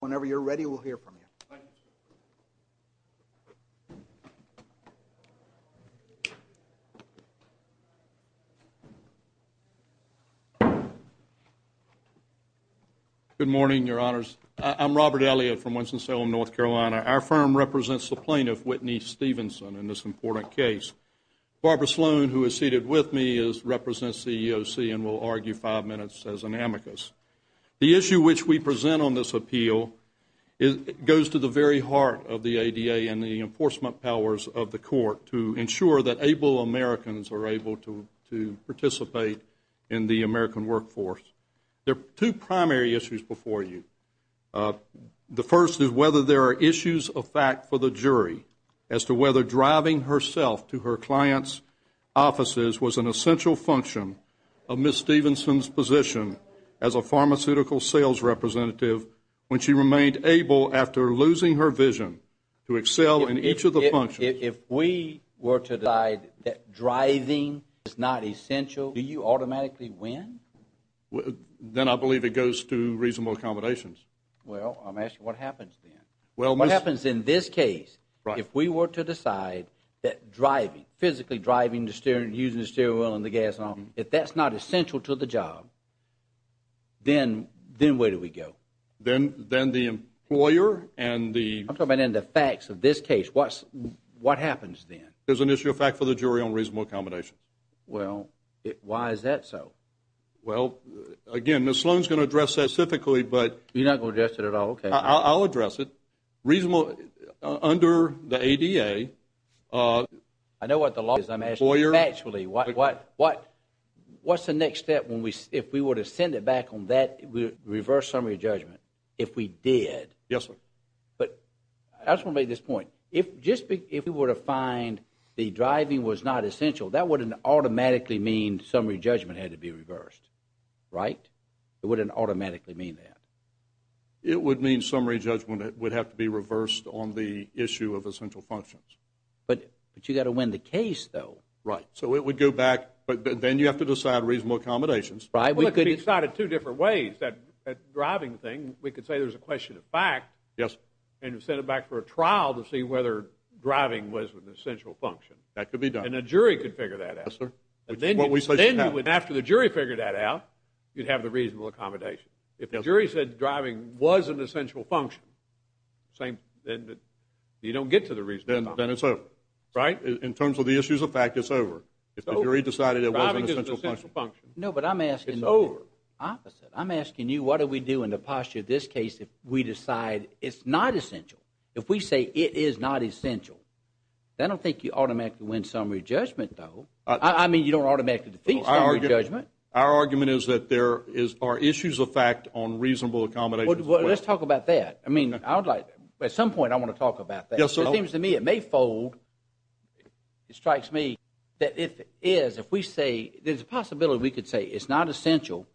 Whenever you're ready, we'll hear from you. Good morning, Your Honors. I'm Robert Elliott from Winston-Salem, North Carolina. Our firm represents the plaintiff, Whitney Stephenson, in this important case. Barbara Sloan, who is seated with me, represents the EEOC and will argue five minutes as an amicus. The issue which we present on this appeal goes to the very heart of the ADA and the enforcement powers of the court to ensure that able Americans are able to participate in the American workforce. There are two primary issues before you. The first is whether there are issues of fact for the jury as to whether driving herself to her client's offices was an essential function of Ms. Stephenson's position as a pharmaceutical sales representative when she remained able, after losing her vision, to excel in each of the functions. If we were to decide that driving is not essential, do you automatically win? Then I believe it goes to reasonable accommodations. Well, I'm asking what happens then. What happens in this case, if we were to decide that driving, physically driving, using the steering wheel and the gas, if that's not essential to the job, then where do we go? Then the employer and the... I'm talking about in the facts of this case. What happens then? There's an issue of fact for the jury on reasonable accommodations. Well, why is that so? Well, again, Ms. Sloan's going to address that specifically, but... You're not going to address it at all? Okay. I'll address it. Under the ADA... I know what the law is. I'm asking actually, what's the next step if we were to send it back on that reverse summary judgment, if we did? Yes, sir. But I just want to make this point. If we were to find the driving was not essential, that wouldn't automatically mean summary judgment had to be reversed, right? It wouldn't automatically mean that. It would mean summary judgment would have to be reversed on the issue of essential functions. But you've got to win the case, though. Right. So it would go back, but then you have to decide reasonable accommodations. Well, it could be decided two different ways. That driving thing, we could say there's a question of fact... Yes. ...and send it back for a trial to see whether driving was an essential function. That could be done. And a jury could figure that out. Yes, sir. And then you would, after the jury figured that out, you'd have the reasonable accommodation. If the jury said driving was an essential function, then you don't get to the reasonable accommodation. Then it's over. Right? In terms of the issues of fact, it's over. If the jury decided it wasn't an essential function... No, but I'm asking... It's over. Opposite. I'm asking you, what do we do in the posture of this case if we decide it's not essential? If we say it is not essential, I don't think you automatically win summary judgment, though. I mean, you don't automatically defeat summary judgment. Our argument is that there are issues of fact on reasonable accommodations. Well, let's talk about that. I mean, at some point, I want to talk about that. Yes, sir. It seems to me it may fold. It strikes me that if it is, if we say there's a possibility we could say it's not essential,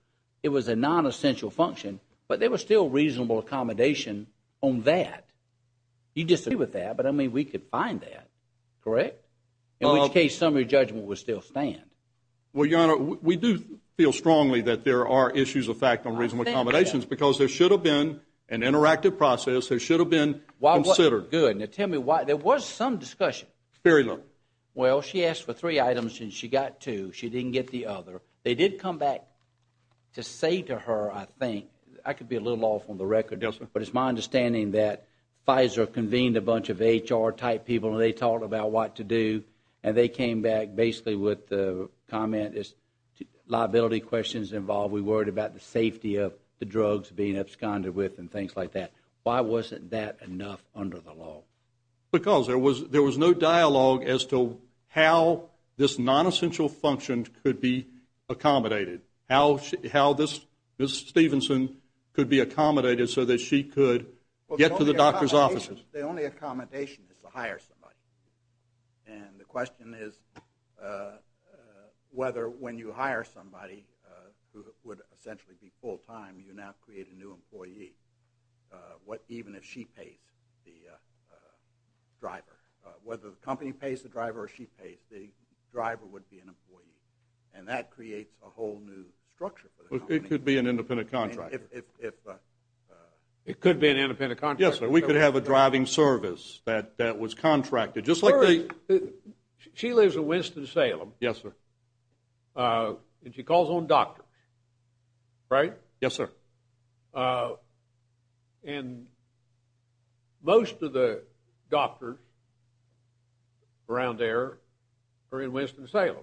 it was a non-essential function, but there was still reasonable accommodation on that. You disagree with that, but I mean, we could find that, correct? In which case, summary judgment would still stand. Well, Your Honor, we do feel strongly that there are issues of fact on reasonable accommodations because there should have been an interactive process. There should have been considered. Good. Now, tell me why. There was some discussion. Very little. Well, she asked for three items and she got two. She didn't get the other. They did come back to say to her, I think, I could be a little off on the record, but it's my understanding that Pfizer convened a bunch of HR-type people and they talked about what to do, and they came back basically with the comment is liability questions involved. We worried about the safety of the drugs being absconded with and things like that. Why wasn't that enough under the law? Because there was no dialogue as to how this non-essential function could be accommodated, how this, Ms. Stevenson, could be accommodated so that she could get to the doctor's offices. The only accommodation is to hire somebody, and the question is whether when you hire somebody who would essentially be full-time, you now create a new employee, even if she pays the driver. Whether the company pays the driver or she pays, the driver would be an employee, and that creates a whole new structure for the company. It could be an independent contractor. If... It could be an independent contractor. We could have a driving service that was contracted, just like... She lives in Winston-Salem. Yes, sir. And she calls on doctors, right? Yes, sir. And most of the doctors around there are in Winston-Salem.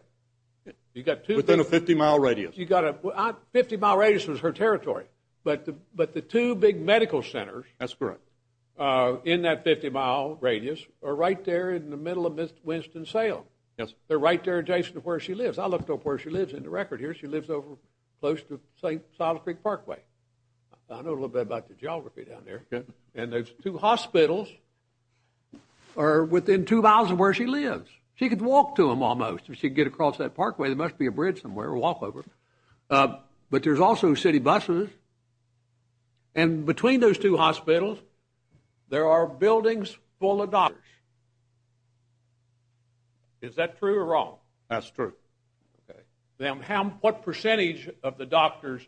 You've got two... Within a 50-mile radius. You've got a... 50-mile radius was her territory, but the two big medical centers... That's correct. ...in that 50-mile radius are right there in the middle of Winston-Salem. Yes, sir. They're right there adjacent to where she lives. I looked up where she lives in the record here. She lives over close to St. Silas Creek Parkway. I know a little bit about the geography down there, and those two hospitals are within two miles of where she lives. She could walk to them, almost, if she could get across that parkway. There must be a bridge somewhere, a walkover. But there's also city buses, and between those two hospitals, there are buildings full of doctors. Is that true or wrong? That's true. Okay. Now, what percentage of the doctors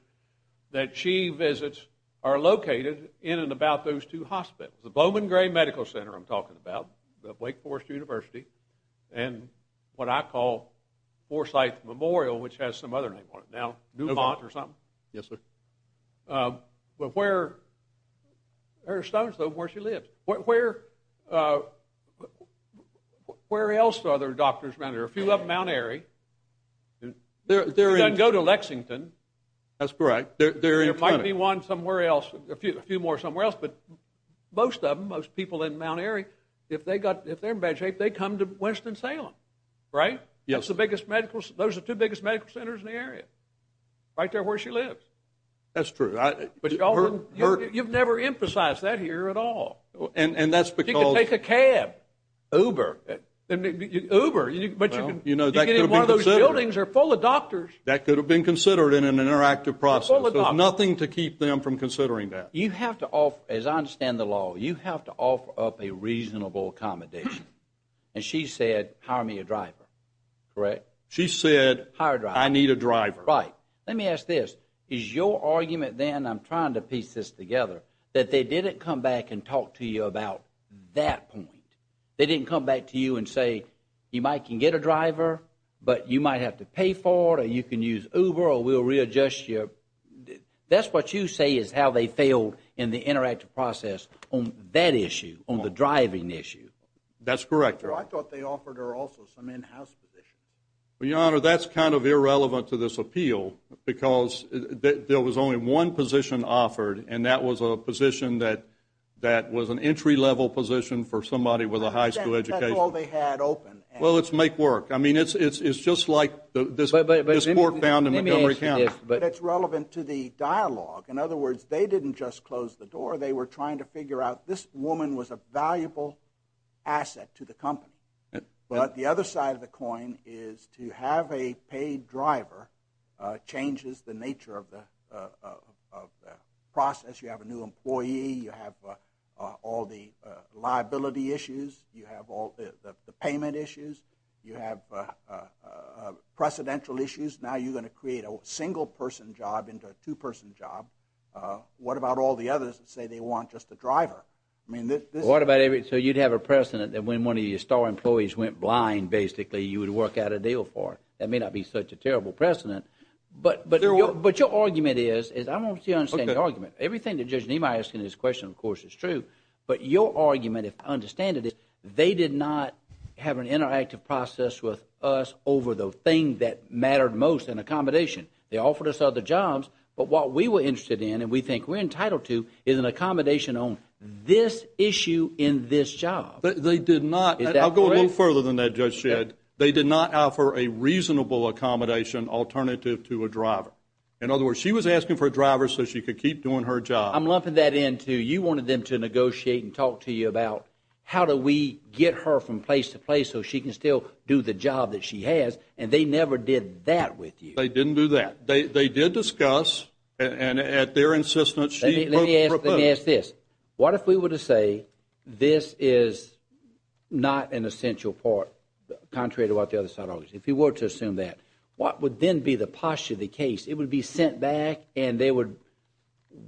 that she visits are located in and about those two hospitals? The Bowman Gray Medical Center I'm talking about, the Wake Forest University, and what I call Forsyth Memorial, which has some other name on it now, Newmont or something? Yes, sir. But where... There are stones, though, where she lives. Where else are there doctors around here? A few up in Mount Airy. She doesn't go to Lexington. That's correct. There might be one somewhere else, a few more somewhere else, but most of them, most people in Mount Airy, if they're in bad shape, they come to Winston-Salem, right? Yes, sir. Those are the two biggest medical centers in the area, right there where she lives. That's true. You've never emphasized that here at all. And that's because... You can take a cab, Uber, Uber, but you can get in one of those buildings that are full of doctors. That could have been considered in an interactive process. There's nothing to keep them from considering that. You have to offer, as I understand the law, you have to offer up a reasonable accommodation. And she said, hire me a driver, correct? She said, I need a driver. Right. Let me ask this. Is your argument then, I'm trying to piece this together, that they didn't come back and talk to you about that point? They didn't come back to you and say, you might can get a driver, but you might have to pay for it, or you can use Uber, or we'll readjust your... That's what you say is how they failed in the interactive process on that issue, on the driving issue. That's correct, Your Honor. I thought they offered her also some in-house positions. Well, Your Honor, that's kind of irrelevant to this appeal, because there was only one position offered, and that was a position that was an entry-level position for somebody with a high school education. That's all they had open. Well, it's make work. I mean, it's just like this court found in Montgomery County. But it's relevant to the dialogue. In other words, they didn't just close the door. They were trying to figure out, this woman was a valuable asset to the company. But the other side of the coin is to have a paid driver changes the nature of the process. You have a new employee. You have all the liability issues. You have all the payment issues. You have precedential issues. Now you're going to create a single-person job into a two-person job. What about all the others that say they want just a driver? I mean, this is... So you'd have a precedent that when one of your star employees went blind, basically, you would work out a deal for her. That may not be such a terrible precedent. But your argument is, I don't understand the argument. Everything that Judge Nima is asking in this question, of course, is true. But your argument, if I understand it, is they did not have an interactive process with us over the thing that mattered most in accommodation. They offered us other jobs. But what we were interested in, and we think we're entitled to, is an accommodation on this issue in this job. But they did not... I'll go a little further than that, Judge Shedd. They did not offer a reasonable accommodation alternative to a driver. In other words, she was asking for a driver so she could keep doing her job. I'm lumping that into, you wanted them to negotiate and talk to you about how do we get her from place to place so she can still do the job that she has. And they never did that with you. They didn't do that. They did discuss, and at their insistence... Let me ask this. What if we were to say this is not an essential part, contrary to what the other side argued? If you were to assume that, what would then be the posture of the case? It would be sent back, and they would...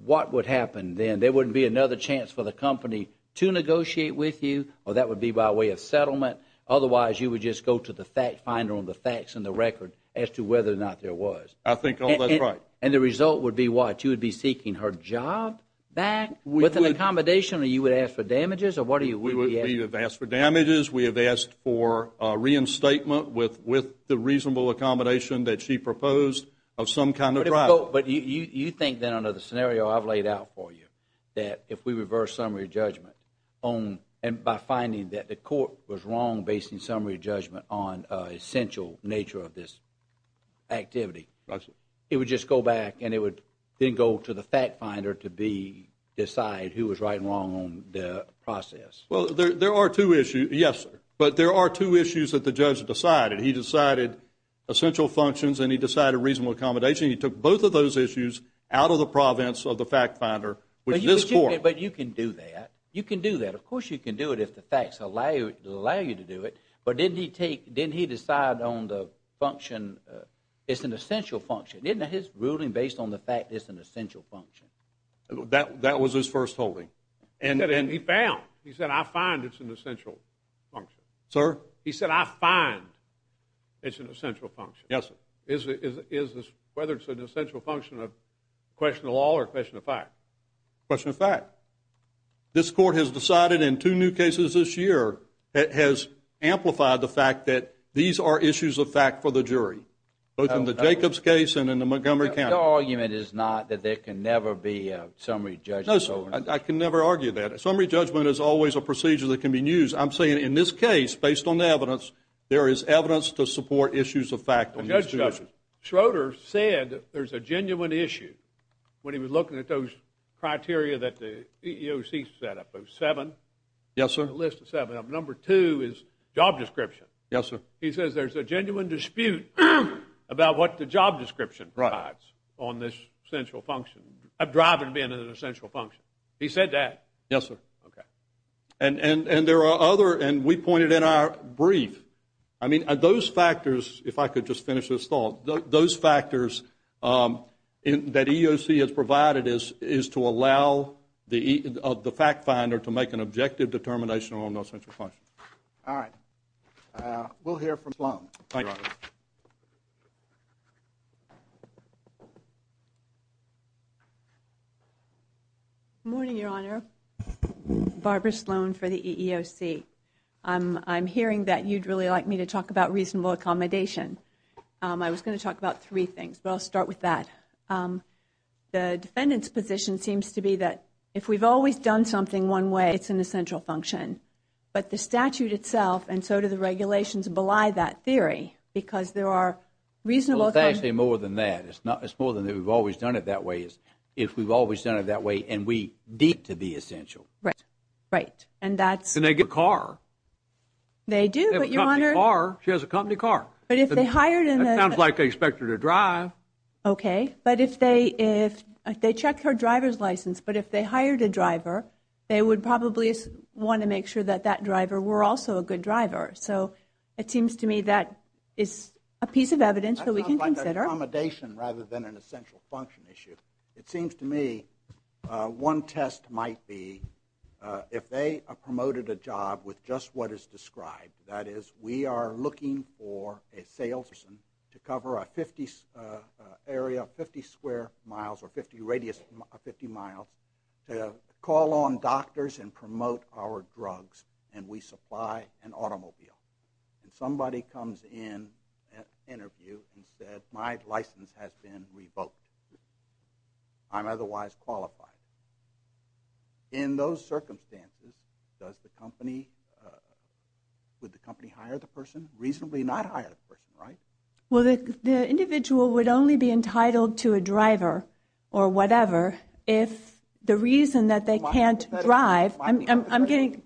What would happen then? There wouldn't be another chance for the company to negotiate with you, or that would be by way of settlement. Otherwise, you would just go to the fact finder on the facts and the record as to whether or not there was. I think all that's right. And the result would be what? You would be seeking her job back with an accommodation, or you would ask for damages, or what do you... We have asked for damages. We have asked for reinstatement with the reasonable accommodation that she proposed of some kind of driver. But you think then, under the scenario I've laid out for you, that if we reverse summary judgment on... And by finding that the court was wrong basing summary judgment on essential nature of this to the fact finder to decide who was right and wrong on the process? Well, there are two issues. Yes, sir. But there are two issues that the judge decided. He decided essential functions, and he decided reasonable accommodation. He took both of those issues out of the province of the fact finder, which this court... But you can do that. You can do that. Of course, you can do it if the facts allow you to do it. But didn't he decide on the function, it's an essential function. Isn't his ruling based on the fact it's an essential function? That was his first holding. And he found, he said, I find it's an essential function. Sir? He said, I find it's an essential function. Yes, sir. Is this, whether it's an essential function of question of law or question of fact? Question of fact. This court has decided in two new cases this year, it has amplified the fact that these are issues of fact for the jury. Both in the Jacobs case and in the Montgomery County. Your argument is not that there can never be a summary judgment. No, sir. I can never argue that. A summary judgment is always a procedure that can be used. I'm saying in this case, based on the evidence, there is evidence to support issues of fact. Well, Judge Schroeder said there's a genuine issue when he was looking at those criteria that the EEOC set up. There's seven. Yes, sir. A list of seven. Number two is job description. Yes, sir. He says there's a genuine dispute about what the job description provides on this essential function of driving being an essential function. He said that. Yes, sir. OK. And there are other, and we pointed in our brief, I mean, those factors, if I could just finish this thought, those factors that EEOC has provided is to allow the fact finder to make an objective determination on those essential functions. All right. Uh, we'll hear from Sloan. Thank you, Your Honor. Good morning, Your Honor. Barbara Sloan for the EEOC. Um, I'm hearing that you'd really like me to talk about reasonable accommodation. Um, I was going to talk about three things, but I'll start with that. Um, the defendant's position seems to be that if we've always done something one way, it's an essential function. But the statute itself, and so do the regulations, belie that theory. Because there are reasonable- Well, it's actually more than that. It's not, it's more than that. We've always done it that way. It's if we've always done it that way, and we deem it to be essential. Right. Right. And that's- And they get a car. They do, but Your Honor- They have a company car. She has a company car. But if they hired in a- That sounds like they expect her to drive. OK. But if they, if they check her driver's license, but if they hired a driver, they would probably want to make sure that that driver were also a good driver. So it seems to me that is a piece of evidence that we can consider. That sounds like accommodation rather than an essential function issue. It seems to me one test might be if they promoted a job with just what is described, that is we are looking for a salesperson to cover a 50 area, 50 square miles, or 50 radius, 50 miles, to call on doctors and promote our drugs, and we supply an automobile. And somebody comes in at interview and said, my license has been revoked. I'm otherwise qualified. In those circumstances, does the company, would the company hire the person? Reasonably not hire the person, right? Well, the individual would only be entitled to a driver, or whatever, if the reason that they can't drive, I'm getting,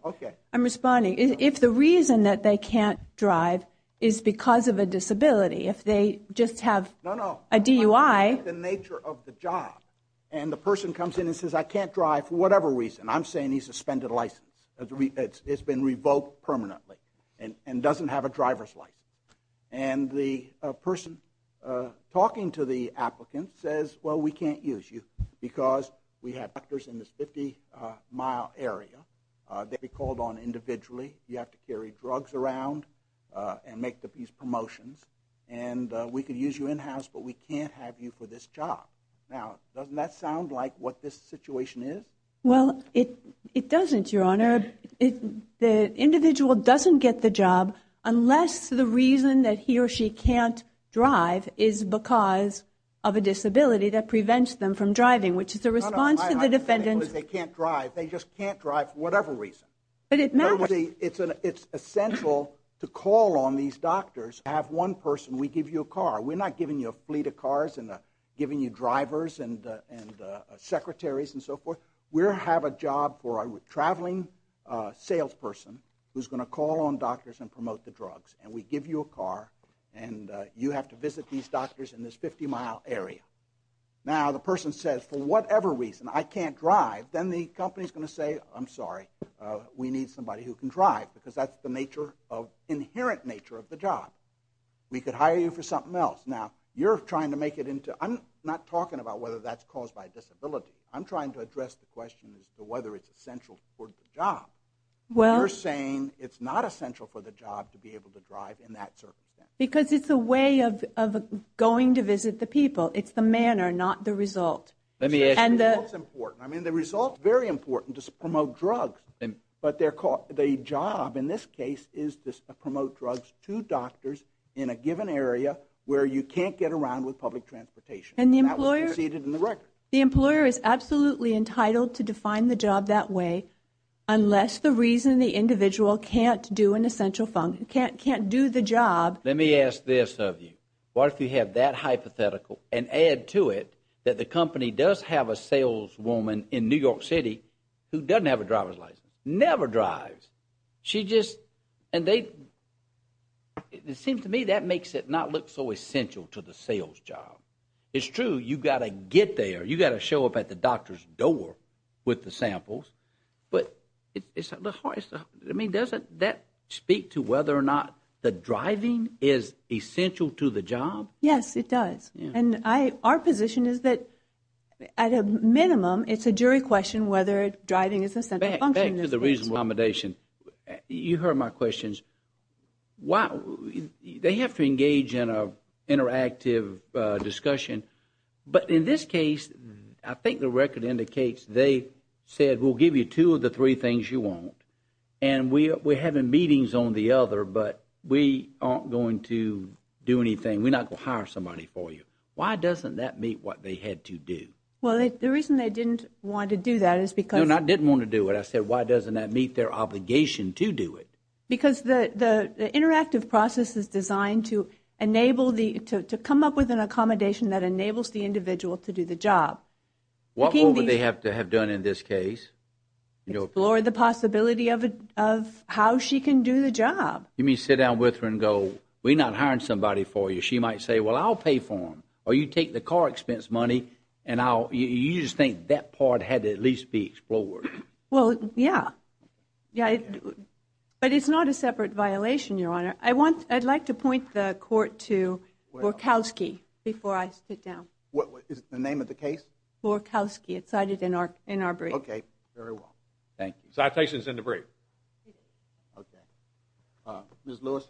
I'm responding. If the reason that they can't drive is because of a disability, if they just have a DUI. No, no, that's the nature of the job. And the person comes in and says, I can't drive for whatever reason. I'm saying he's a suspended license. It's been revoked permanently and doesn't have a driver's license. And the person talking to the applicant says, well, we can't use you because we have doctors in this 50 mile area. They'll be called on individually. You have to carry drugs around and make these promotions. And we could use you in-house, but we can't have you for this job. Now, doesn't that sound like what this situation is? Well, it doesn't, your honor. The individual doesn't get the job unless the reason that he or she can't drive is because of a disability that prevents them from driving, which is a response to the defendant's- They can't drive. They just can't drive for whatever reason. But it matters. It's essential to call on these doctors, have one person, we give you a car. We're not giving you a fleet of cars and giving you drivers and secretaries and so forth. We have a job for a traveling salesperson who's going to call on doctors and promote the drugs. And we give you a car and you have to visit these doctors in this 50 mile area. Now, the person says, for whatever reason, I can't drive. Then the company's going to say, I'm sorry. We need somebody who can drive because that's the inherent nature of the job. We could hire you for something else. Now, you're trying to make it into- I'm not talking about whether that's caused by disability. I'm trying to address the question as to whether it's essential for the job. Well- You're saying it's not essential for the job to be able to drive in that circumstance. Because it's a way of going to visit the people. It's the manner, not the result. Let me ask- The result's important. I mean, the result's very important to promote drugs. But the job in this case is to promote drugs to doctors in a given area where you can't get around with public transportation. And that was preceded in the record. The employer is absolutely entitled to define the job that way, unless the reason the individual can't do an essential- can't do the job- Let me ask this of you. What if you have that hypothetical and add to it that the company does have a saleswoman in New York City who doesn't have a driver's license? Never drives. She just- and they- it seems to me that makes it not look so essential to the sales job. It's true, you've got to get there. You've got to show up at the doctor's door with the samples. But it's- I mean, doesn't that speak to whether or not the driving is essential to the job? Yes, it does. And I- our position is that at a minimum, it's a jury question whether driving is essential. Back to the reasonable accommodation. You heard my questions. Why- they have to engage in an interactive discussion. But in this case, I think the record indicates they said, we'll give you two of the three things you want. And we're having meetings on the other, but we aren't going to do anything. We're not going to hire somebody for you. Why doesn't that meet what they had to do? Well, the reason they didn't want to do that is because- No, I didn't want to do it. I said, why doesn't that meet their obligation to do it? Because the interactive process is designed to enable the- to come up with an accommodation that enables the individual to do the job. What would they have to have done in this case? Explore the possibility of how she can do the job. You mean sit down with her and go, we're not hiring somebody for you. She might say, well, I'll pay for them. Or you take the car expense money and I'll- you just think that part had to at least be explored. Well, yeah. Yeah, but it's not a separate violation, Your Honor. I'd like to point the court to Borkowski before I sit down. What is the name of the case? Borkowski. It's cited in our brief. Okay. Very well. Thank you. Citation's in the brief. Okay. Ms. Lewis.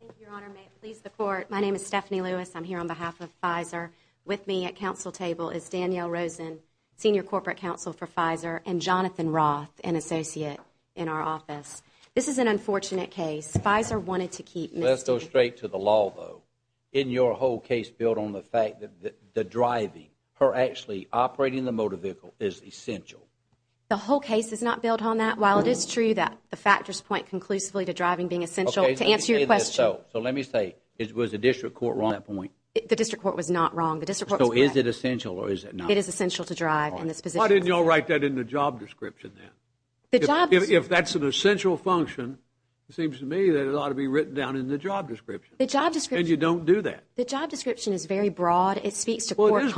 Thank you, Your Honor. May it please the court. My name is Stephanie Lewis. I'm here on behalf of Pfizer. With me at council table is Danielle Rosen, Senior Corporate Counsel for Pfizer, and Jonathan Roth, an associate in our office. This is an unfortunate case. Pfizer wanted to keep- Let's go straight to the law, though. Isn't your whole case built on the fact that the driving, her actually operating the motor vehicle, is essential? The whole case is not built on that. While it is true that the factors point conclusively to driving being essential, to answer your question- So let me say, was the district court wrong on that point? The district court was not wrong. The district court- So is it essential or is it not? It is essential to drive in this position. Why didn't y'all write that in the job description then? If that's an essential function, it seems to me that it ought to be written down in the job description. The job description- And you don't do that. The job description is very broad. It speaks to core competencies.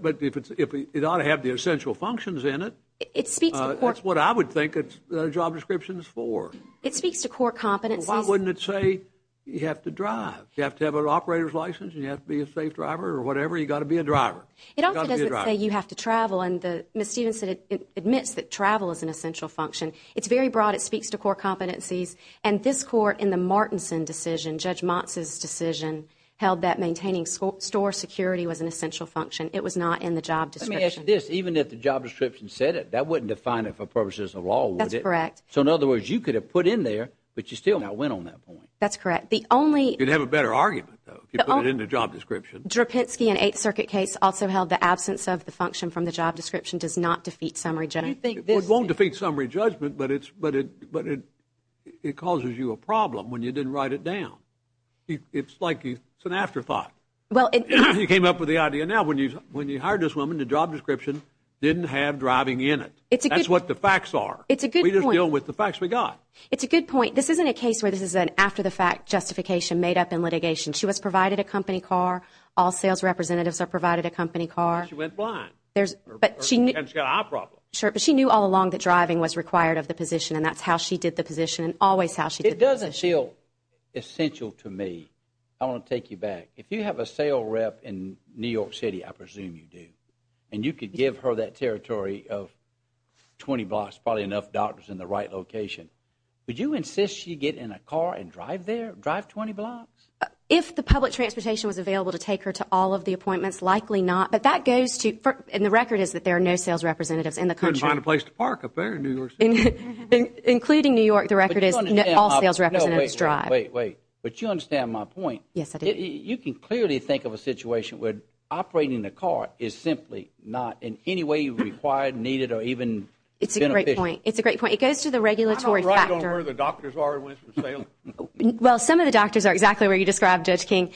But it ought to have the essential functions in it. It speaks to core- That's what I would think a job description is for. It speaks to core competencies. Why wouldn't it say you have to drive? You have to have an operator's license and you have to be a safe driver or whatever. You've got to be a driver. It also doesn't say you have to travel. Ms. Stephenson admits that travel is an essential function. It's very broad. It speaks to core competencies. And this court, in the Martinson decision, Judge Motz's decision, held that maintaining store security was an essential function. It was not in the job description. Let me ask you this. Even if the job description said it, that wouldn't define it for purposes of law, would it? That's correct. So in other words, you could have put in there, but you still not went on that point. That's correct. The only- You'd have a better argument, though, if you put it in the job description. Drapinski in the Eighth Circuit case also held the absence of the function from the job description does not defeat summary judgment. You think this- It won't defeat summary judgment, but it causes you a problem when you didn't write it down. It's like it's an afterthought. Well, it- You came up with the idea. Now, when you hired this woman, the job description didn't have driving in it. It's a good- That's what the facts are. It's a good point. We just deal with the facts we got. This isn't a case where this is an after-the-fact justification made up in litigation. She was provided a company car. All sales representatives are provided a company car. She went blind. There's- But she knew- And she's got an eye problem. Sure, but she knew all along that driving was required of the position, and that's how she did the position and always how she did the position. It doesn't feel essential to me. I want to take you back. If you have a sale rep in New York City, I presume you do, and you could give her that territory of 20 blocks, probably enough doctors in the right location, would you insist she get in a car and drive there, drive 20 blocks? If the public transportation was available to take her to all of the appointments, likely not, but that goes to- And the record is that there are no sales representatives in the country. Couldn't find a place to park up there in New York City. Including New York, the record is all sales representatives drive. Wait, wait. But you understand my point. Yes, I do. You can clearly think of a situation where operating the car is simply not in any way required, needed, or even beneficial. It's a great point. It's a great point. It goes to the regulatory factor. I'm not right on where the doctors are who went for sale. Well, some of the doctors are exactly where you described, Judge King.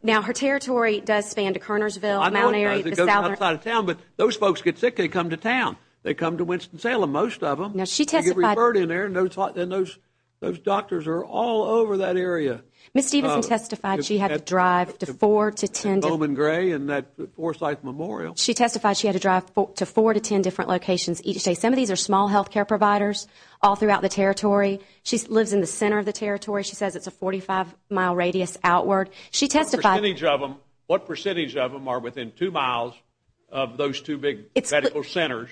Now, her territory does span to Kernersville, Mount Airy, the southern- Well, I know it does. It goes outside of town. But those folks get sick, they come to town. They come to Winston-Salem, most of them. Now, she testified- You get referred in there, and those doctors are all over that area. Ms. Stevenson testified she had to drive to four to ten- And Oman Gray and that Forsyth Memorial. She testified she had to drive to four to ten different locations each day. Some of these are small health care providers all throughout the territory. She lives in the center of the territory. She says it's a 45-mile radius outward. She testified- What percentage of them are within two miles of those two big medical centers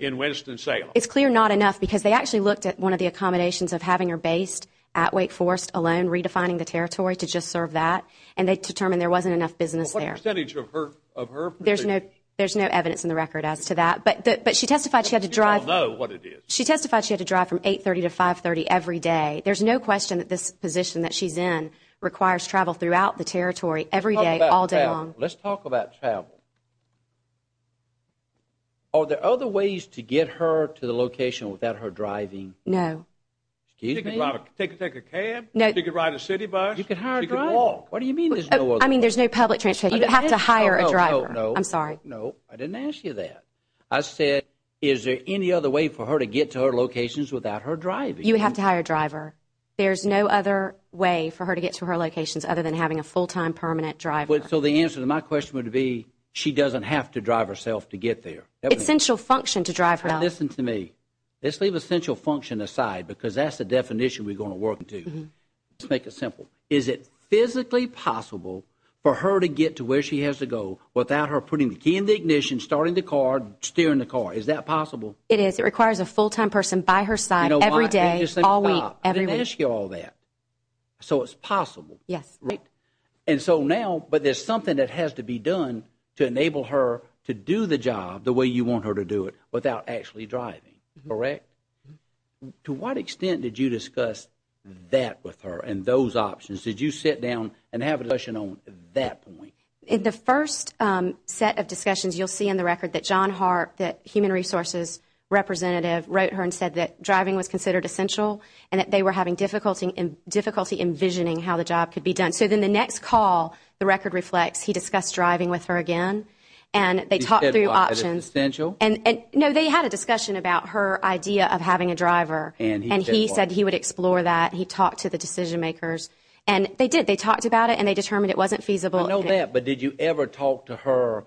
in Winston-Salem? It's clear not enough, because they actually looked at one of the accommodations of having her based at Wake Forest alone, redefining the territory to just serve that. And they determined there wasn't enough business there. What percentage of her- There's no evidence in the record as to that. But she testified she had to drive- You all know what it is. She testified she had to drive from 830 to 530 every day. There's no question that this position that she's in requires travel throughout the territory every day, all day long. Let's talk about travel. Are there other ways to get her to the location without her driving? No. Excuse me? She could drive- Take a cab. No. She could ride a city bus. She could walk. What do you mean there's no other- I mean, there's no public transportation. You'd have to hire a driver. I'm sorry. No, I didn't ask you that. I said is there any other way for her to get to her locations without her driving? You'd have to hire a driver. There's no other way for her to get to her locations other than having a full-time, permanent driver. So the answer to my question would be she doesn't have to drive herself to get there. Essential function to drive her. Now, listen to me. Let's leave essential function aside because that's the definition we're going to work into. Let's make it simple. Is it physically possible for her to get to where she has to go without her putting the ignition, starting the car, steering the car? Is that possible? It is. It requires a full-time person by her side every day, all week. I didn't ask you all that. So it's possible. Yes. Right? And so now, but there's something that has to be done to enable her to do the job the way you want her to do it without actually driving, correct? To what extent did you discuss that with her and those options? Did you sit down and have a discussion on that point? In the first set of discussions, you'll see in the record that John Harp, that human resources representative, wrote her and said that driving was considered essential and that they were having difficulty envisioning how the job could be done. So then the next call, the record reflects, he discussed driving with her again. And they talked through options. She said it was essential. And no, they had a discussion about her idea of having a driver. And he said he would explore that. He talked to the decision makers. And they did. They talked about it and they determined it wasn't feasible. But did you ever talk to her?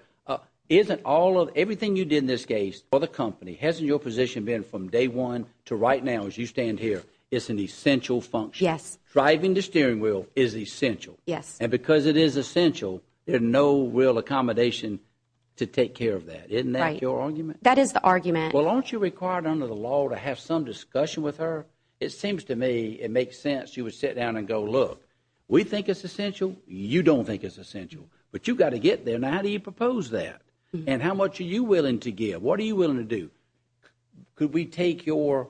Isn't all of everything you did in this case for the company, hasn't your position been from day one to right now as you stand here? It's an essential function. Yes. Driving the steering wheel is essential. Yes. And because it is essential, there's no real accommodation to take care of that. Isn't that your argument? That is the argument. Well, aren't you required under the law to have some discussion with her? It seems to me it makes sense. You would sit down and go, look, we think it's essential. You don't think it's essential. But you've got to get there. Now, how do you propose that? And how much are you willing to give? What are you willing to do? Could we take your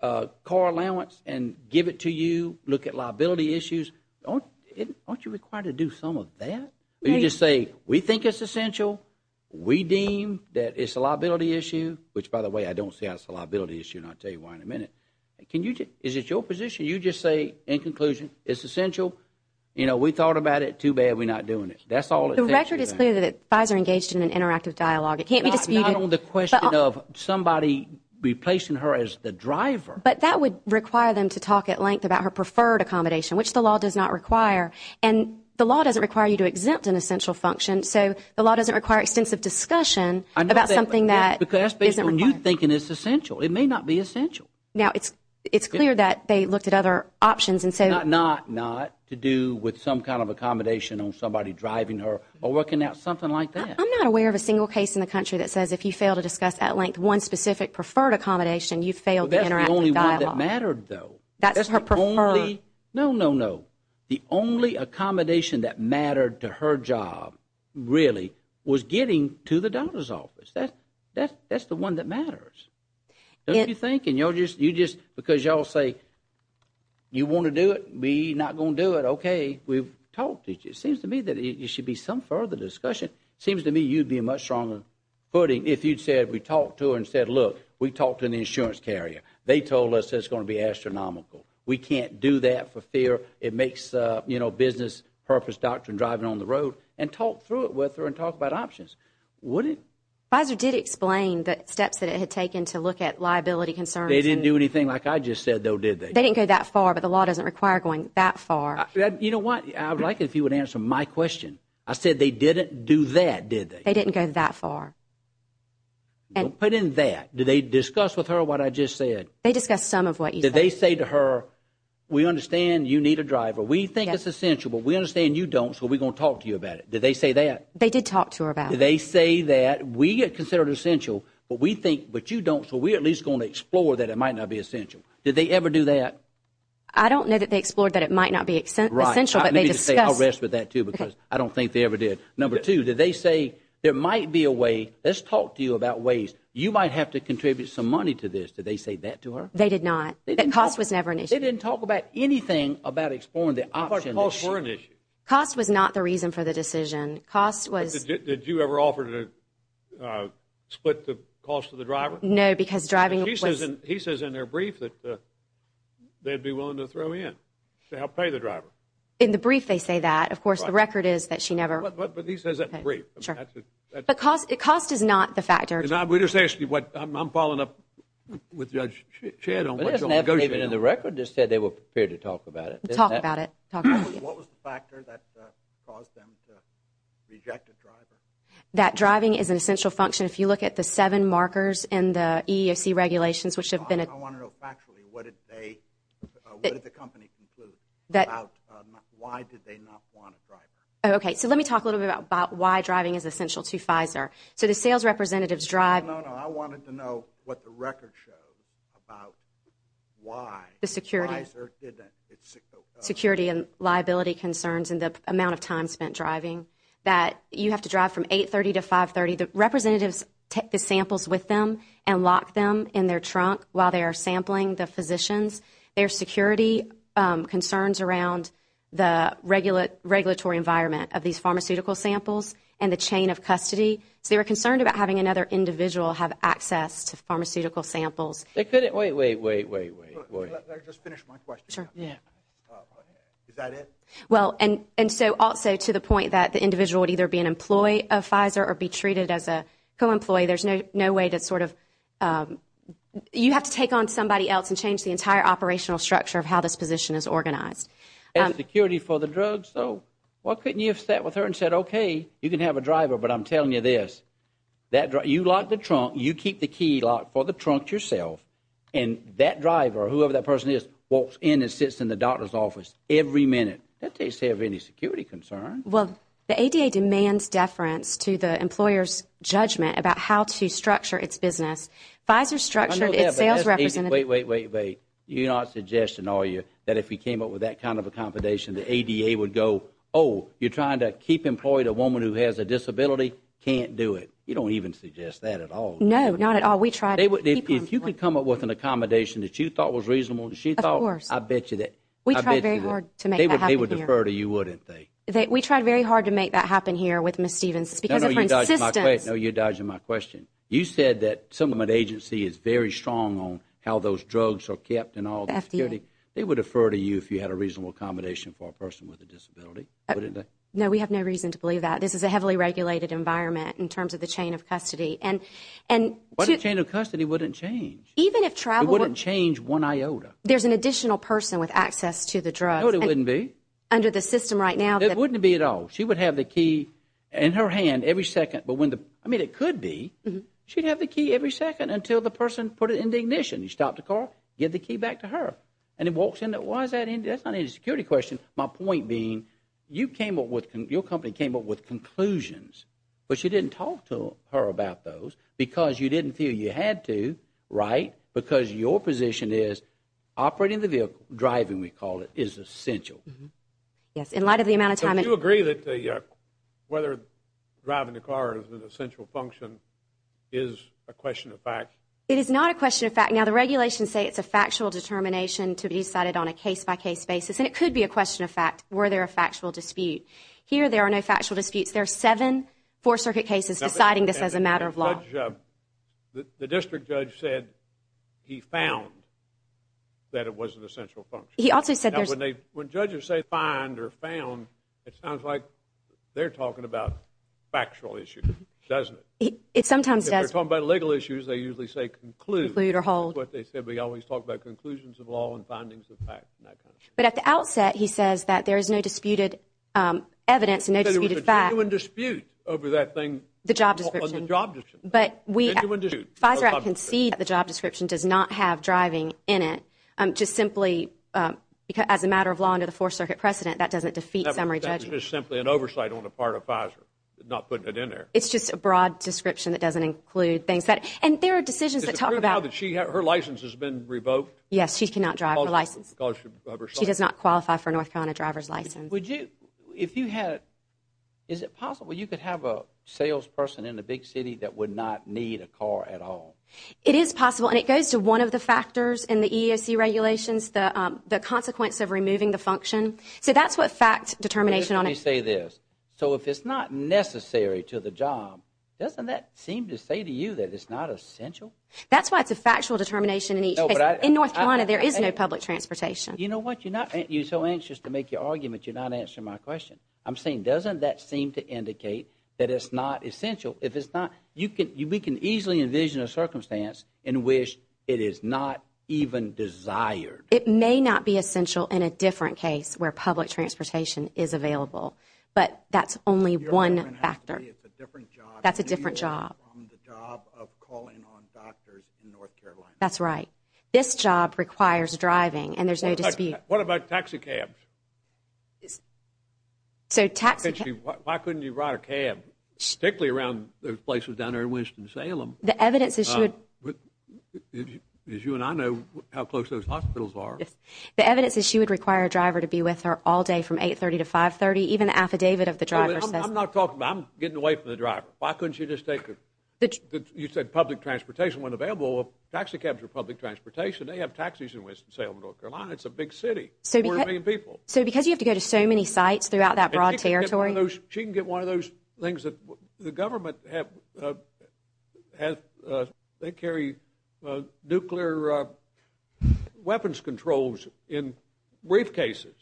car allowance and give it to you, look at liability issues? Aren't you required to do some of that? You just say, we think it's essential. We deem that it's a liability issue, which, by the way, I don't see how it's a liability issue, and I'll tell you why in a minute. Is it your position? You just say, in conclusion, it's essential. We thought about it. Too bad we're not doing it. That's all it takes. The record is clear that the guys are engaged in an interactive dialogue. It can't be disputed. Not on the question of somebody replacing her as the driver. But that would require them to talk at length about her preferred accommodation, which the law does not require. And the law doesn't require you to exempt an essential function. So the law doesn't require extensive discussion about something that isn't required. Because that's based on you thinking it's essential. It may not be essential. Now, it's clear that they looked at other options. Not to do with some kind of accommodation on somebody driving her or working out something like that. I'm not aware of a single case in the country that says if you fail to discuss at length one specific preferred accommodation, you've failed the interactive dialogue. That's the only one that mattered, though. That's her preferred. No, no, no. The only accommodation that mattered to her job, really, was getting to the daughter's office. That's the one that matters. Don't you think? Because you all say, you want to do it? We're not going to do it. OK. We've talked. It seems to me that there should be some further discussion. It seems to me you'd be much stronger footing if you'd said, we talked to her and said, look, we talked to an insurance carrier. They told us it's going to be astronomical. We can't do that for fear. It makes business purpose doctrine driving on the road. And talk through it with her and talk about options. Would it? Pfizer did explain the steps that it had taken to look at liability concerns. They didn't do anything like I just said, though, did they? They didn't go that far. But the law doesn't require going that far. You know what? I would like it if you would answer my question. I said they didn't do that, did they? They didn't go that far. Don't put in that. Did they discuss with her what I just said? They discussed some of what you said. Did they say to her, we understand you need a driver. We think it's essential. But we understand you don't. So we're going to talk to you about it. Did they say that? They did talk to her about it. They say that we are considered essential, but we think what you don't. So we're at least going to explore that. It might not be essential. Did they ever do that? I don't know that they explored that. It might not be essential. But they just say I'll rest with that, too, because I don't think they ever did. Number two, did they say there might be a way? Let's talk to you about ways you might have to contribute some money to this. Did they say that to her? They did not. The cost was never an issue. They didn't talk about anything about exploring the option. Cost was not the reason for the decision. Cost was. Did you ever offer to split the cost of the driver? No, because driving was. He says in their brief that they'd be willing to throw in to help pay the driver. In the brief, they say that. Of course, the record is that she never. But he says that in brief. The cost is not the factor. And I would just ask you what. I'm following up with Judge Shedd on what you'll negotiate. Even in the record, it said they were prepared to talk about it. Talk about it. What was the factor that caused them to reject a driver? That driving is an essential function. If you look at the seven markers in the EEOC regulations, which have been. I want to know factually. What did they, what did the company conclude about why did they not want a driver? Okay, so let me talk a little bit about why driving is essential to Pfizer. So the sales representatives drive. No, no, I wanted to know what the record showed about why. The security. Pfizer didn't. Security and liability concerns in the amount of time spent driving. That you have to drive from 830 to 530. The representatives take the samples with them and lock them in their trunk. While they are sampling the physicians, their security concerns around. The regular regulatory environment of these pharmaceutical samples. And the chain of custody. So they were concerned about having another individual have access to pharmaceutical samples. They couldn't wait, wait, wait, wait, wait. Let me just finish my question. Is that it? Well, and, and so also to the point that the individual would either be an employee of Pfizer or be treated as a co-employee. There's no, no way to sort of. You have to take on somebody else and change the entire operational structure of how this position is organized. And security for the drugs. So why couldn't you have sat with her and said, okay, you can have a driver, but I'm telling you this. That you lock the trunk, you keep the key lock for the trunk yourself. And that driver, whoever that person is, walks in and sits in the doctor's office every minute. That takes care of any security concerns. Well, the ADA demands deference to the employer's judgment about how to structure its business. Pfizer structured its sales representative. Wait, wait, wait, wait. You're not suggesting, are you? That if we came up with that kind of accommodation, the ADA would go, oh, you're trying to keep employed a woman who has a disability? Can't do it. You don't even suggest that at all. No, not at all. If you could come up with an accommodation that you thought was reasonable, she thought, I bet you that. We tried very hard to make that happen here. They would defer to you, wouldn't they? We tried very hard to make that happen here with Ms. Stevens. It's because of her insistence. No, you're dodging my question. You said that some of the agency is very strong on how those drugs are kept and all the security. They would defer to you if you had a reasonable accommodation for a person with a disability, wouldn't they? No, we have no reason to believe that. This is a heavily regulated environment in terms of the chain of custody. But a chain of custody wouldn't change. Even if travel— It wouldn't change one iota. There's an additional person with access to the drugs— No, there wouldn't be. —under the system right now. It wouldn't be at all. She would have the key in her hand every second. I mean, it could be. She'd have the key every second until the person put it into ignition. You stop the car, give the key back to her. And it walks in. Why is that? That's not even a security question. My point being, your company came up with conclusions, but she didn't talk to her about those because you didn't feel you had to, right? Because your position is operating the vehicle, driving, we call it, is essential. Yes. In light of the amount of time— Do you agree that whether driving the car is an essential function is a question of fact? It is not a question of fact. Now, the regulations say it's a factual determination to be decided on a case-by-case basis. And it could be a question of fact. Were there a factual dispute? Here, there are no factual disputes. There are seven Fourth Circuit cases deciding this as a matter of law. The district judge said he found that it was an essential function. He also said— Now, when judges say find or found, it sounds like they're talking about factual issues, doesn't it? It sometimes does. If they're talking about legal issues, they usually say conclude. Conclude or hold. What they said. We always talk about conclusions of law and findings of fact and that kind of thing. But at the outset, he says that there is no disputed evidence and no disputed fact. There's a genuine dispute over that thing. The job description. On the job description. But we— Genuine dispute. FISA Act concedes that the job description does not have driving in it. Just simply as a matter of law under the Fourth Circuit precedent, that doesn't defeat summary judgment. That's just simply an oversight on the part of FISA not putting it in there. It's just a broad description that doesn't include things that— And there are decisions that talk about— Is it true now that her license has been revoked? Yes, she cannot drive her license. Because of oversight. She does not qualify for a North Carolina driver's license. If you had— Is it possible you could have a salesperson in a big city that would not need a car at all? It is possible. And it goes to one of the factors in the EEOC regulations, the consequence of removing the function. So that's what fact determination— Let me say this. So if it's not necessary to the job, doesn't that seem to say to you that it's not essential? That's why it's a factual determination in each case. In North Carolina, there is no public transportation. You know what? You're so anxious to make your argument, you're not answering my question. I'm saying, doesn't that seem to indicate that it's not essential? If it's not— You can— We can easily envision a circumstance in which it is not even desired. It may not be essential in a different case where public transportation is available. But that's only one factor. That's a different job. That's right. This job requires driving, and there's no dispute. What about taxi cabs? Why couldn't you ride a cab, particularly around those places down there in Winston-Salem? The evidence is— As you and I know how close those hospitals are. The evidence is she would require a driver to be with her all day from 8.30 to 5.30. Even the affidavit of the driver says— I'm not talking about—I'm getting away from the driver. Why couldn't you just take a—you said public transportation wasn't available. Taxi cabs are public transportation. They have taxis in Winston-Salem, North Carolina. It's a big city. A quarter of a million people. So because you have to go to so many sites throughout that broad territory— She can get one of those things that the government have—they carry nuclear weapons controls in briefcases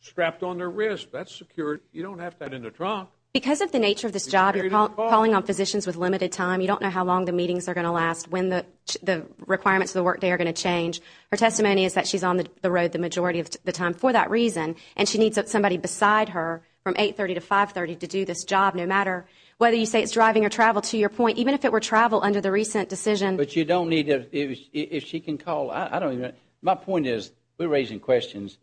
strapped on their wrist. That's secure. You don't have that in the trunk. Because of the nature of this job, you're calling on physicians with limited time. You don't know how long the meetings are going to last, when the requirements of the workday are going to change. Her testimony is that she's on the road the majority of the time for that reason, and she needs somebody beside her from 8.30 to 5.30 to do this job no matter whether you say it's driving or travel, to your point. Even if it were travel under the recent decision— But you don't need to—if she can call—I don't even—my point is, we're raising questions.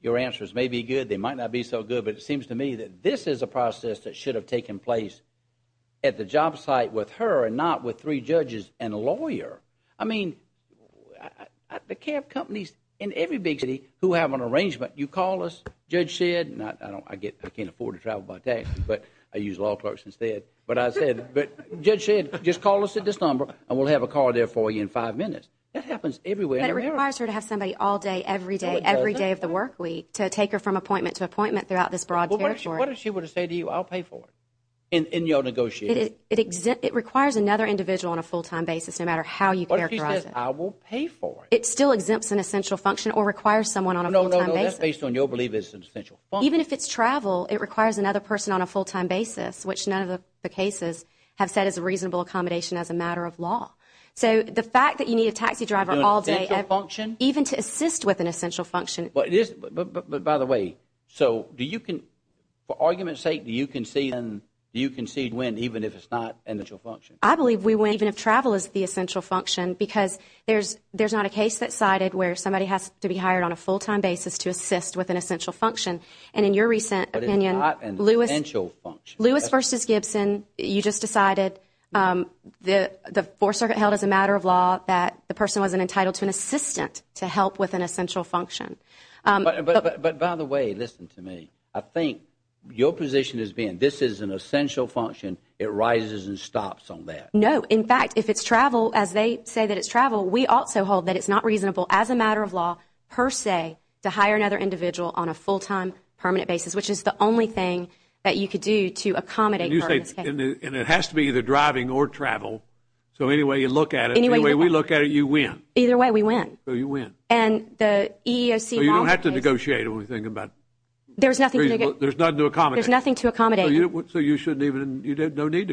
Your answers may be good. They might not be so good. But it seems to me that this is a process that should have taken place at the job site with her and not with three judges and a lawyer. I mean, the cab companies in every big city who have an arrangement, you call us, Judge Shedd—I can't afford to travel by taxi, but I use law clerks instead—but I said, Judge Shedd, just call us at this number, and we'll have a car there for you in five minutes. That happens everywhere in America. But it requires her to have somebody all day, every day, every day of the workweek to take her from appointment to appointment throughout this broad territory. What if she were to say to you, I'll pay for it, and you'll negotiate it? It requires another individual on a full-time basis, no matter how you characterize it. What if she says, I will pay for it? It still exempts an essential function or requires someone on a full-time basis. No, no, no, that's based on your belief it's an essential function. Even if it's travel, it requires another person on a full-time basis, which none of the cases have said is a reasonable accommodation as a matter of law. So the fact that you need a taxi driver all day— An essential function? Even to assist with an essential function— But it is—but by the way, so do you can—for argument's sake, do you concede when, even if it's not an essential function? I believe we win, even if travel is the essential function, because there's not a case that's cited where somebody has to be hired on a full-time basis to assist with an essential function. And in your recent opinion— But it's not an essential function. Lewis v. Gibson, you just decided the Fourth Circuit held as a matter of law that the person wasn't entitled to an assistant to help with an essential function. But by the way, listen to me. I think your position is being this is an essential function. It rises and stops on that. No. In fact, if it's travel, as they say that it's travel, we also hold that it's not reasonable as a matter of law, per se, to hire another individual on a full-time, permanent basis, which is the only thing that you could do to accommodate— And you say—and it has to be either driving or travel. So any way you look at it— Any way you look at it— The way we look at it, you win. Either way, we win. So you win. And the EEOC model— So you don't have to negotiate when we're thinking about— There's nothing to— There's nothing to accommodate. There's nothing to accommodate. So you shouldn't even—you don't need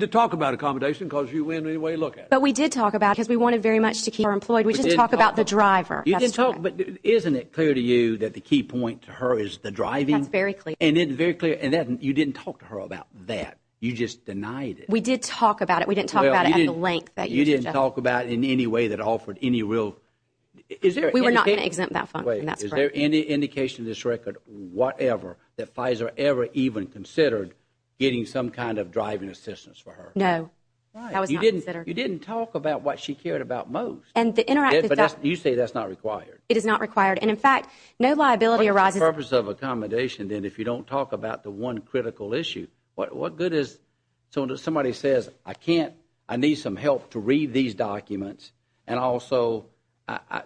to talk about accommodation because you win any way you look at it. But we did talk about it because we wanted very much to keep her employed. We just talked about the driver. You didn't talk—but isn't it clear to you that the key point to her is the driving? That's very clear. And it's very clear. And you didn't talk to her about that. You just denied it. We did talk about it. We didn't talk about it at the length that you suggested. Well, you didn't talk about it in any way that offered any real—is there any— We were not going to exempt that from— Is there any indication in this record, whatever, that Pfizer ever even considered getting some kind of driving assistance for her? No, that was not considered. You didn't talk about what she cared about most. And the interactive— You say that's not required. It is not required. And in fact, no liability arises— What's the purpose of accommodation then if you don't talk about the one critical issue? What good is—so somebody says, I can't—I need some help to read these documents. And also,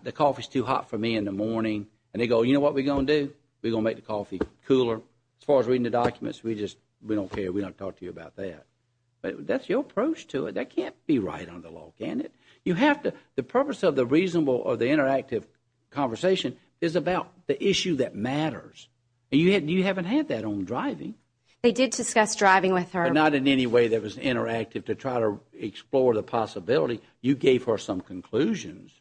the coffee's too hot for me in the morning. And they go, you know what we're going to do? We're going to make the coffee cooler. As far as reading the documents, we just—we don't care. We're not going to talk to you about that. That's your approach to it. That can't be right on the law, can it? You have to—the purpose of the reasonable or the interactive conversation is about the issue that matters. And you haven't had that on driving. They did discuss driving with her. But not in any way that was interactive to try to explore the possibility. You gave her some conclusions,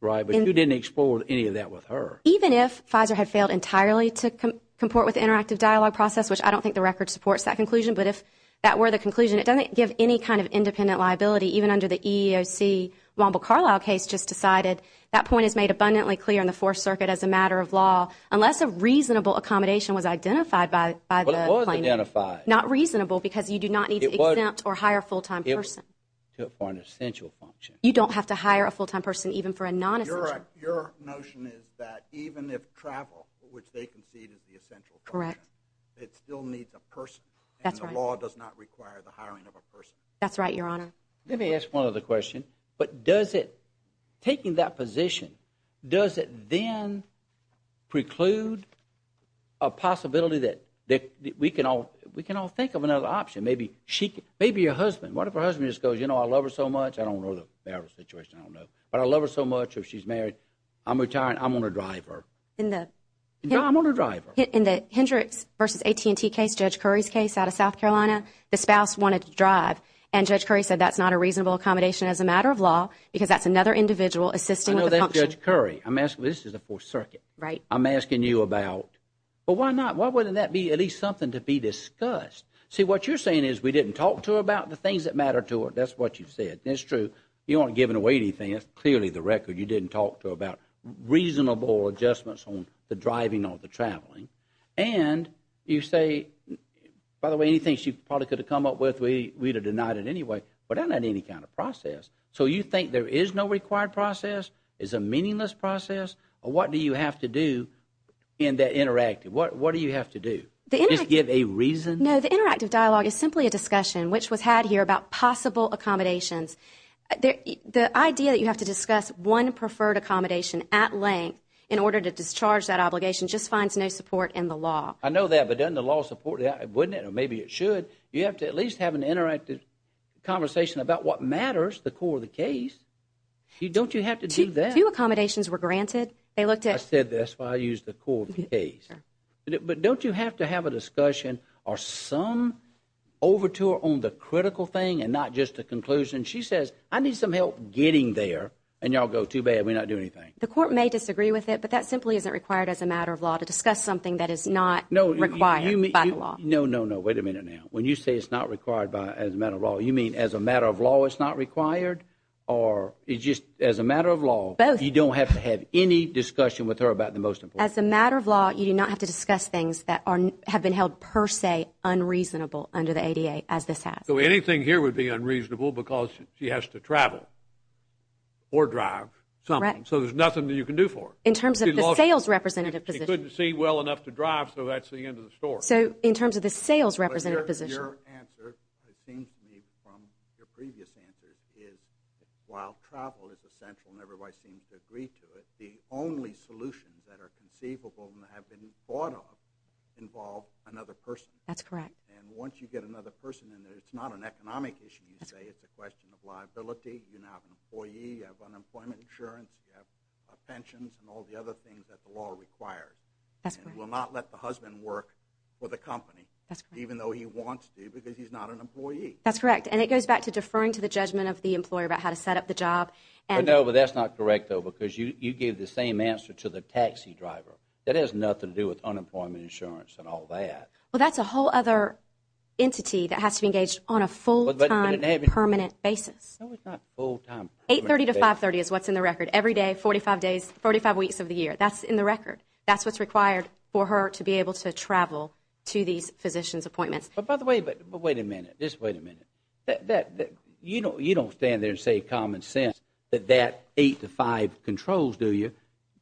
right? But you didn't explore any of that with her. Even if Pfizer had failed entirely to comport with the interactive dialogue process, which I don't think the record supports that conclusion, but if that were the conclusion, it doesn't give any kind of independent liability, even under the EEOC Womble-Carlyle case just decided. That point is made abundantly clear in the Fourth Circuit as a matter of law. Unless a reasonable accommodation was identified by the— Well, it was identified. Not reasonable because you do not need to exempt or hire a full-time person. For an essential function. You don't have to hire a full-time person even for a non-essential— Your notion is that even if travel, which they concede is the essential function, it still needs a person. That's right. And the law does not require the hiring of a person. That's right, Your Honor. Let me ask one other question. But does it—taking that position, does it then preclude a possibility that we can all think of another option? Maybe she—maybe your husband. What if her husband just goes, you know, I love her so much. I don't know the marital situation. I don't know. But I love her so much if she's married. I'm retiring. I'm going to drive her. In the— I'm going to drive her. In the Hendrix v. AT&T case, Judge Curry's case out of South Carolina, the spouse wanted to drive. And Judge Curry said that's not a reasonable accommodation as a matter of law because that's another individual assisting with a function. I know that's Judge Curry. I'm asking—this is the Fourth Circuit. Right. I'm asking you about—but why not? Why wouldn't that be at least something to be discussed? See, what you're saying is we didn't talk to her about the things that matter to her. That's what you've said. That's true. You aren't giving away anything. That's clearly the record. You didn't talk to her about reasonable adjustments on the driving or the traveling. And you say—by the way, anything she probably could have come up with, we'd have denied it anyway. But that's not any kind of process. So you think there is no required process? It's a meaningless process? Or what do you have to do in that interactive? What do you have to do? The interactive— Just give a reason? No, the interactive dialogue is simply a discussion, which was had here, about possible accommodations. The idea that you have to discuss one preferred accommodation at length in order to discharge that obligation just finds no support in the law. I know that, but doesn't the law support that? Wouldn't it? Or maybe it should. You have to at least have an interactive conversation about what matters, the core of the case. Don't you have to do that? They looked at— I said that's why I used the core of the case. But don't you have to have a discussion or some overture on the critical thing and not just the conclusion? She says, I need some help getting there, and y'all go, too bad, we're not doing anything. The court may disagree with it, but that simply isn't required as a matter of law to discuss something that is not required by the law. No, no, no. Wait a minute now. When you say it's not required by—as a matter of law, you mean as a matter of law it's not required? Or it's just as a matter of law— Both. You don't have to have any discussion with her about the most important— As a matter of law, you do not have to discuss things that have been held per se unreasonable under the ADA as this has. So anything here would be unreasonable because she has to travel or drive something, so there's nothing that you can do for her? In terms of the sales representative position. She couldn't see well enough to drive, so that's the end of the story. So in terms of the sales representative position— But your answer, it seems to me from your previous answers, is while travel is essential and everybody seems to agree to it, the only solutions that are conceivable and have been thought of involve another person. That's correct. And once you get another person in there, it's not an economic issue, you say. It's a question of liability. You now have an employee, you have unemployment insurance, you have pensions and all the other things that the law requires. That's correct. And we'll not let the husband work for the company even though he wants to because he's not an employee. That's correct. And it goes back to deferring to the judgment of the employer about how to set up the job. But no, that's not correct, though, because you gave the same answer to the taxi driver. That has nothing to do with unemployment insurance and all that. Well, that's a whole other entity that has to be engaged on a full-time, permanent basis. No, it's not full-time. 830 to 530 is what's in the record. Every day, 45 days, 45 weeks of the year. That's in the record. That's what's required for her to be able to travel to these physician's appointments. But by the way, but wait a minute. Just wait a minute. You don't stand there and say common sense that that eight to five controls, do you?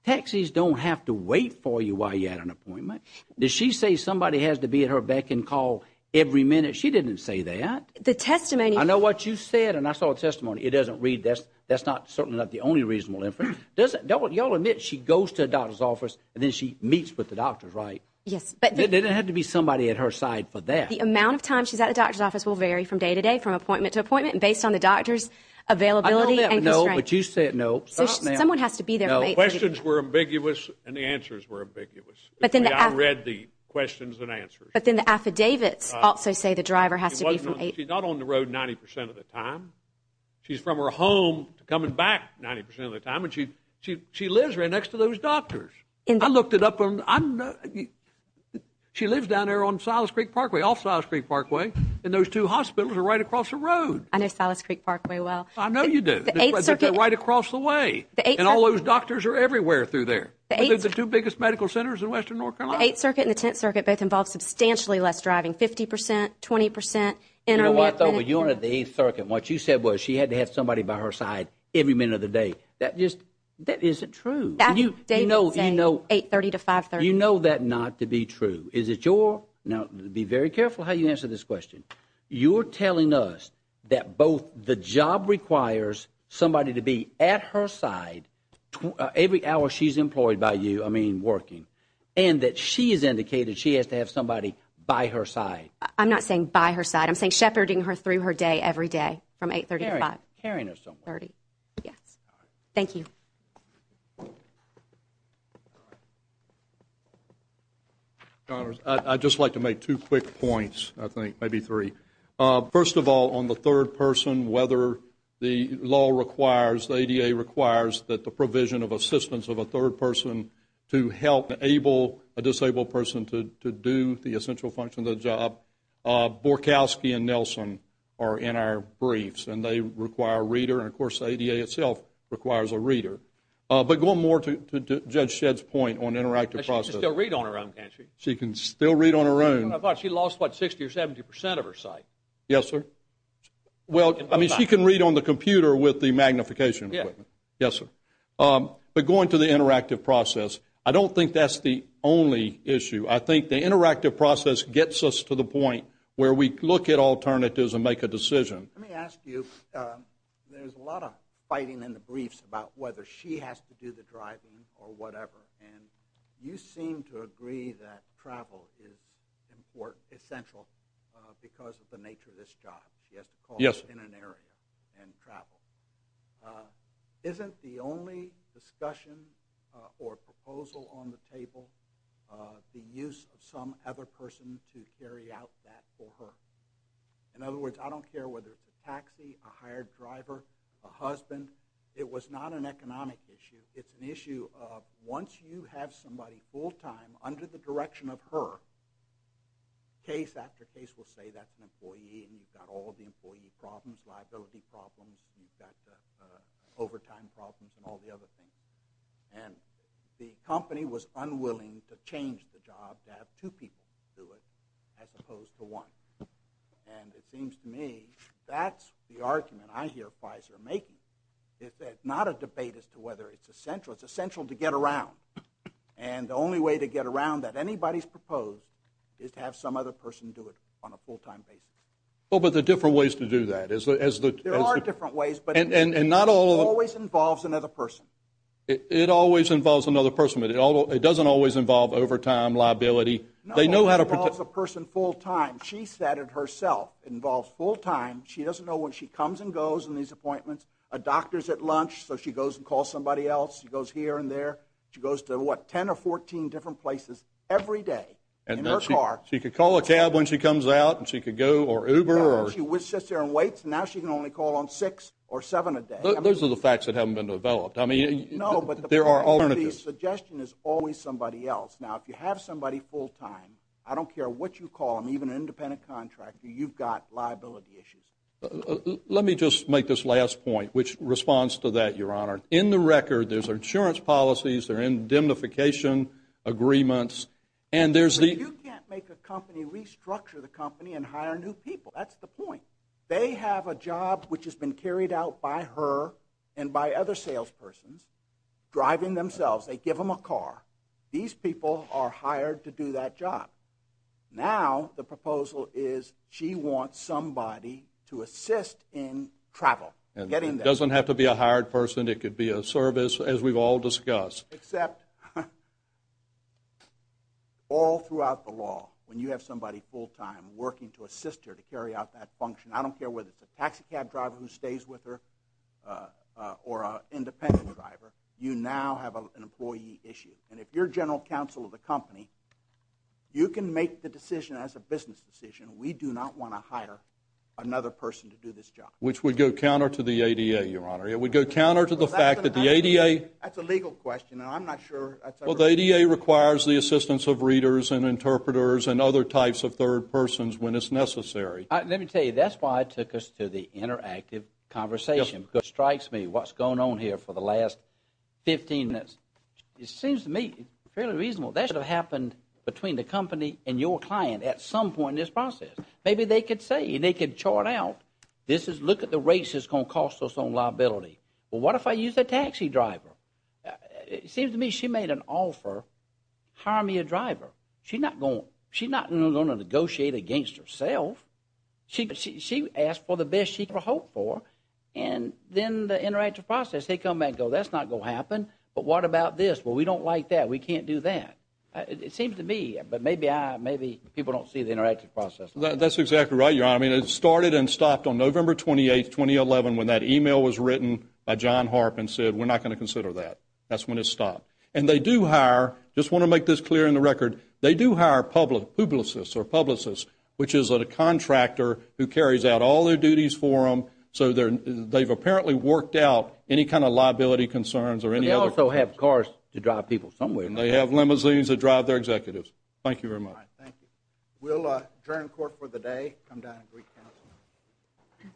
Taxis don't have to wait for you while you're at an appointment. Did she say somebody has to be at her beck and call every minute? She didn't say that. The testimony. I know what you said, and I saw a testimony. It doesn't read. That's not certainly not the only reasonable inference. Y'all admit she goes to a doctor's office, and then she meets with the doctors, right? Yes. But there didn't have to be somebody at her side for that. The amount of time she's at the doctor's office will vary from day to day, from appointment to appointment, and based on the doctor's availability. I don't know, but you said no. Someone has to be there. Questions were ambiguous, and the answers were ambiguous. But then I read the questions and answers. But then the affidavits also say the driver has to be from eight. She's not on the road 90% of the time. She's from her home to coming back 90% of the time. She lives right next to those doctors. I looked it up. I know she lives down there on Silas Creek Parkway, off Silas Creek Parkway, and those two hospitals are right across the road. I know Silas Creek Parkway well. I know you do. The Eighth Circuit. They're right across the way, and all those doctors are everywhere through there. The Eighth Circuit. They're the two biggest medical centers in western North Carolina. The Eighth Circuit and the Tenth Circuit both involve substantially less driving, 50%, 20%. You know what, though? When you were at the Eighth Circuit, what you said was she had to have somebody by her side every minute of the day. That just isn't true. David's saying 830 to 530. You know that not to be true. Is it your? Now, be very careful how you answer this question. You're telling us that both the job requires somebody to be at her side every hour she's employed by you, I mean working, and that she has indicated she has to have somebody by her side. I'm not saying by her side. I'm saying shepherding her through her day every day from 830 to 530. Carrying her somewhere. Yes. Thank you. Mr. Connors, I'd just like to make two quick points, I think, maybe three. First of all, on the third person, whether the law requires, the ADA requires that the provision of assistance of a third person to help enable a disabled person to do the essential function of the job. Borkowski and Nelson are in our briefs, and they require a reader. And of course, the ADA itself requires a reader. But going more to Judge Shedd's point on interactive process. She can still read on her own, can't she? She can still read on her own. I thought she lost, what, 60 or 70 percent of her sight? Yes, sir. Well, I mean, she can read on the computer with the magnification equipment. Yes, sir. But going to the interactive process, I don't think that's the only issue. I think the interactive process gets us to the point where we look at alternatives and make a decision. Let me ask you, there's a lot of fighting in the briefs about whether she has to do the driving or whatever. And you seem to agree that travel is essential because of the nature of this job. She has to call in an area and travel. Isn't the only discussion or proposal on the table the use of some other person to carry out that for her? In other words, I don't care whether it's a taxi, a hired driver, a husband, it was not an economic issue. It's an issue of once you have somebody full-time under the direction of her, case after case will say that's an employee and you've got all the employee problems, liability problems, you've got the overtime problems and all the other things. And the company was unwilling to change the job to have two people do it as opposed to And it seems to me that's the argument I hear Pfizer making. It's not a debate as to whether it's essential. It's essential to get around. And the only way to get around that anybody's proposed is to have some other person do it on a full-time basis. Well, but there are different ways to do that. There are different ways, but it always involves another person. It always involves another person, but it doesn't always involve overtime, liability. They know how to protect the person full time. She said it herself. It involves full-time. She doesn't know when she comes and goes in these appointments. A doctor's at lunch, so she goes and calls somebody else. She goes here and there. She goes to, what, 10 or 14 different places every day in her car. She could call a cab when she comes out and she could go or Uber. No, she sits there and waits. Now she can only call on six or seven a day. Those are the facts that haven't been developed. I mean, there are alternatives. The suggestion is always somebody else. Now, if you have somebody full-time, I don't care what you call them, even an independent contractor, you've got liability issues. Let me just make this last point, which responds to that, Your Honor. In the record, there's insurance policies, there are indemnification agreements, and there's the- But you can't make a company restructure the company and hire new people. That's the point. They have a job which has been carried out by her and by other salespersons, driving themselves. They give them a car. These people are hired to do that job. Now, the proposal is she wants somebody to assist in travel, getting there. Doesn't have to be a hired person. It could be a service, as we've all discussed. Except all throughout the law, when you have somebody full-time working to assist her, to carry out that function, I don't care whether it's a taxicab driver who stays with her or an independent driver, you now have an employee issue. And if you're general counsel of the company, you can make the decision as a business decision. We do not want to hire another person to do this job. Which would go counter to the ADA, Your Honor. It would go counter to the fact that the ADA- That's a legal question, and I'm not sure- Well, the ADA requires the assistance of readers and interpreters and other types of third persons when it's necessary. Let me tell you, that's why I took us to the interactive conversation, because it strikes me what's going on here for the last 15 minutes. It seems to me fairly reasonable. That should have happened between the company and your client at some point in this process. Maybe they could say, they could chart out, look at the rates it's going to cost us on liability. Well, what if I use a taxi driver? It seems to me she made an offer, hire me a driver. She's not going to negotiate against herself. She asked for the best she could hope for, and then the interactive process, they come back and go, that's not going to happen. But what about this? Well, we don't like that. We can't do that. It seems to me, but maybe people don't see the interactive process like that. That's exactly right, Your Honor. I mean, it started and stopped on November 28, 2011, when that email was written by John Harp and said, we're not going to consider that. That's when it stopped. And they do hire, just want to make this clear in the record, they do hire publicists or publicists, which is a contractor who carries out all their duties for them, so they've apparently worked out any kind of liability concerns or any other- And they also have cars to drive people somewhere. And they have limousines to drive their executives. Thank you very much. Thank you. We'll adjourn court for the day, come down to Greek Council.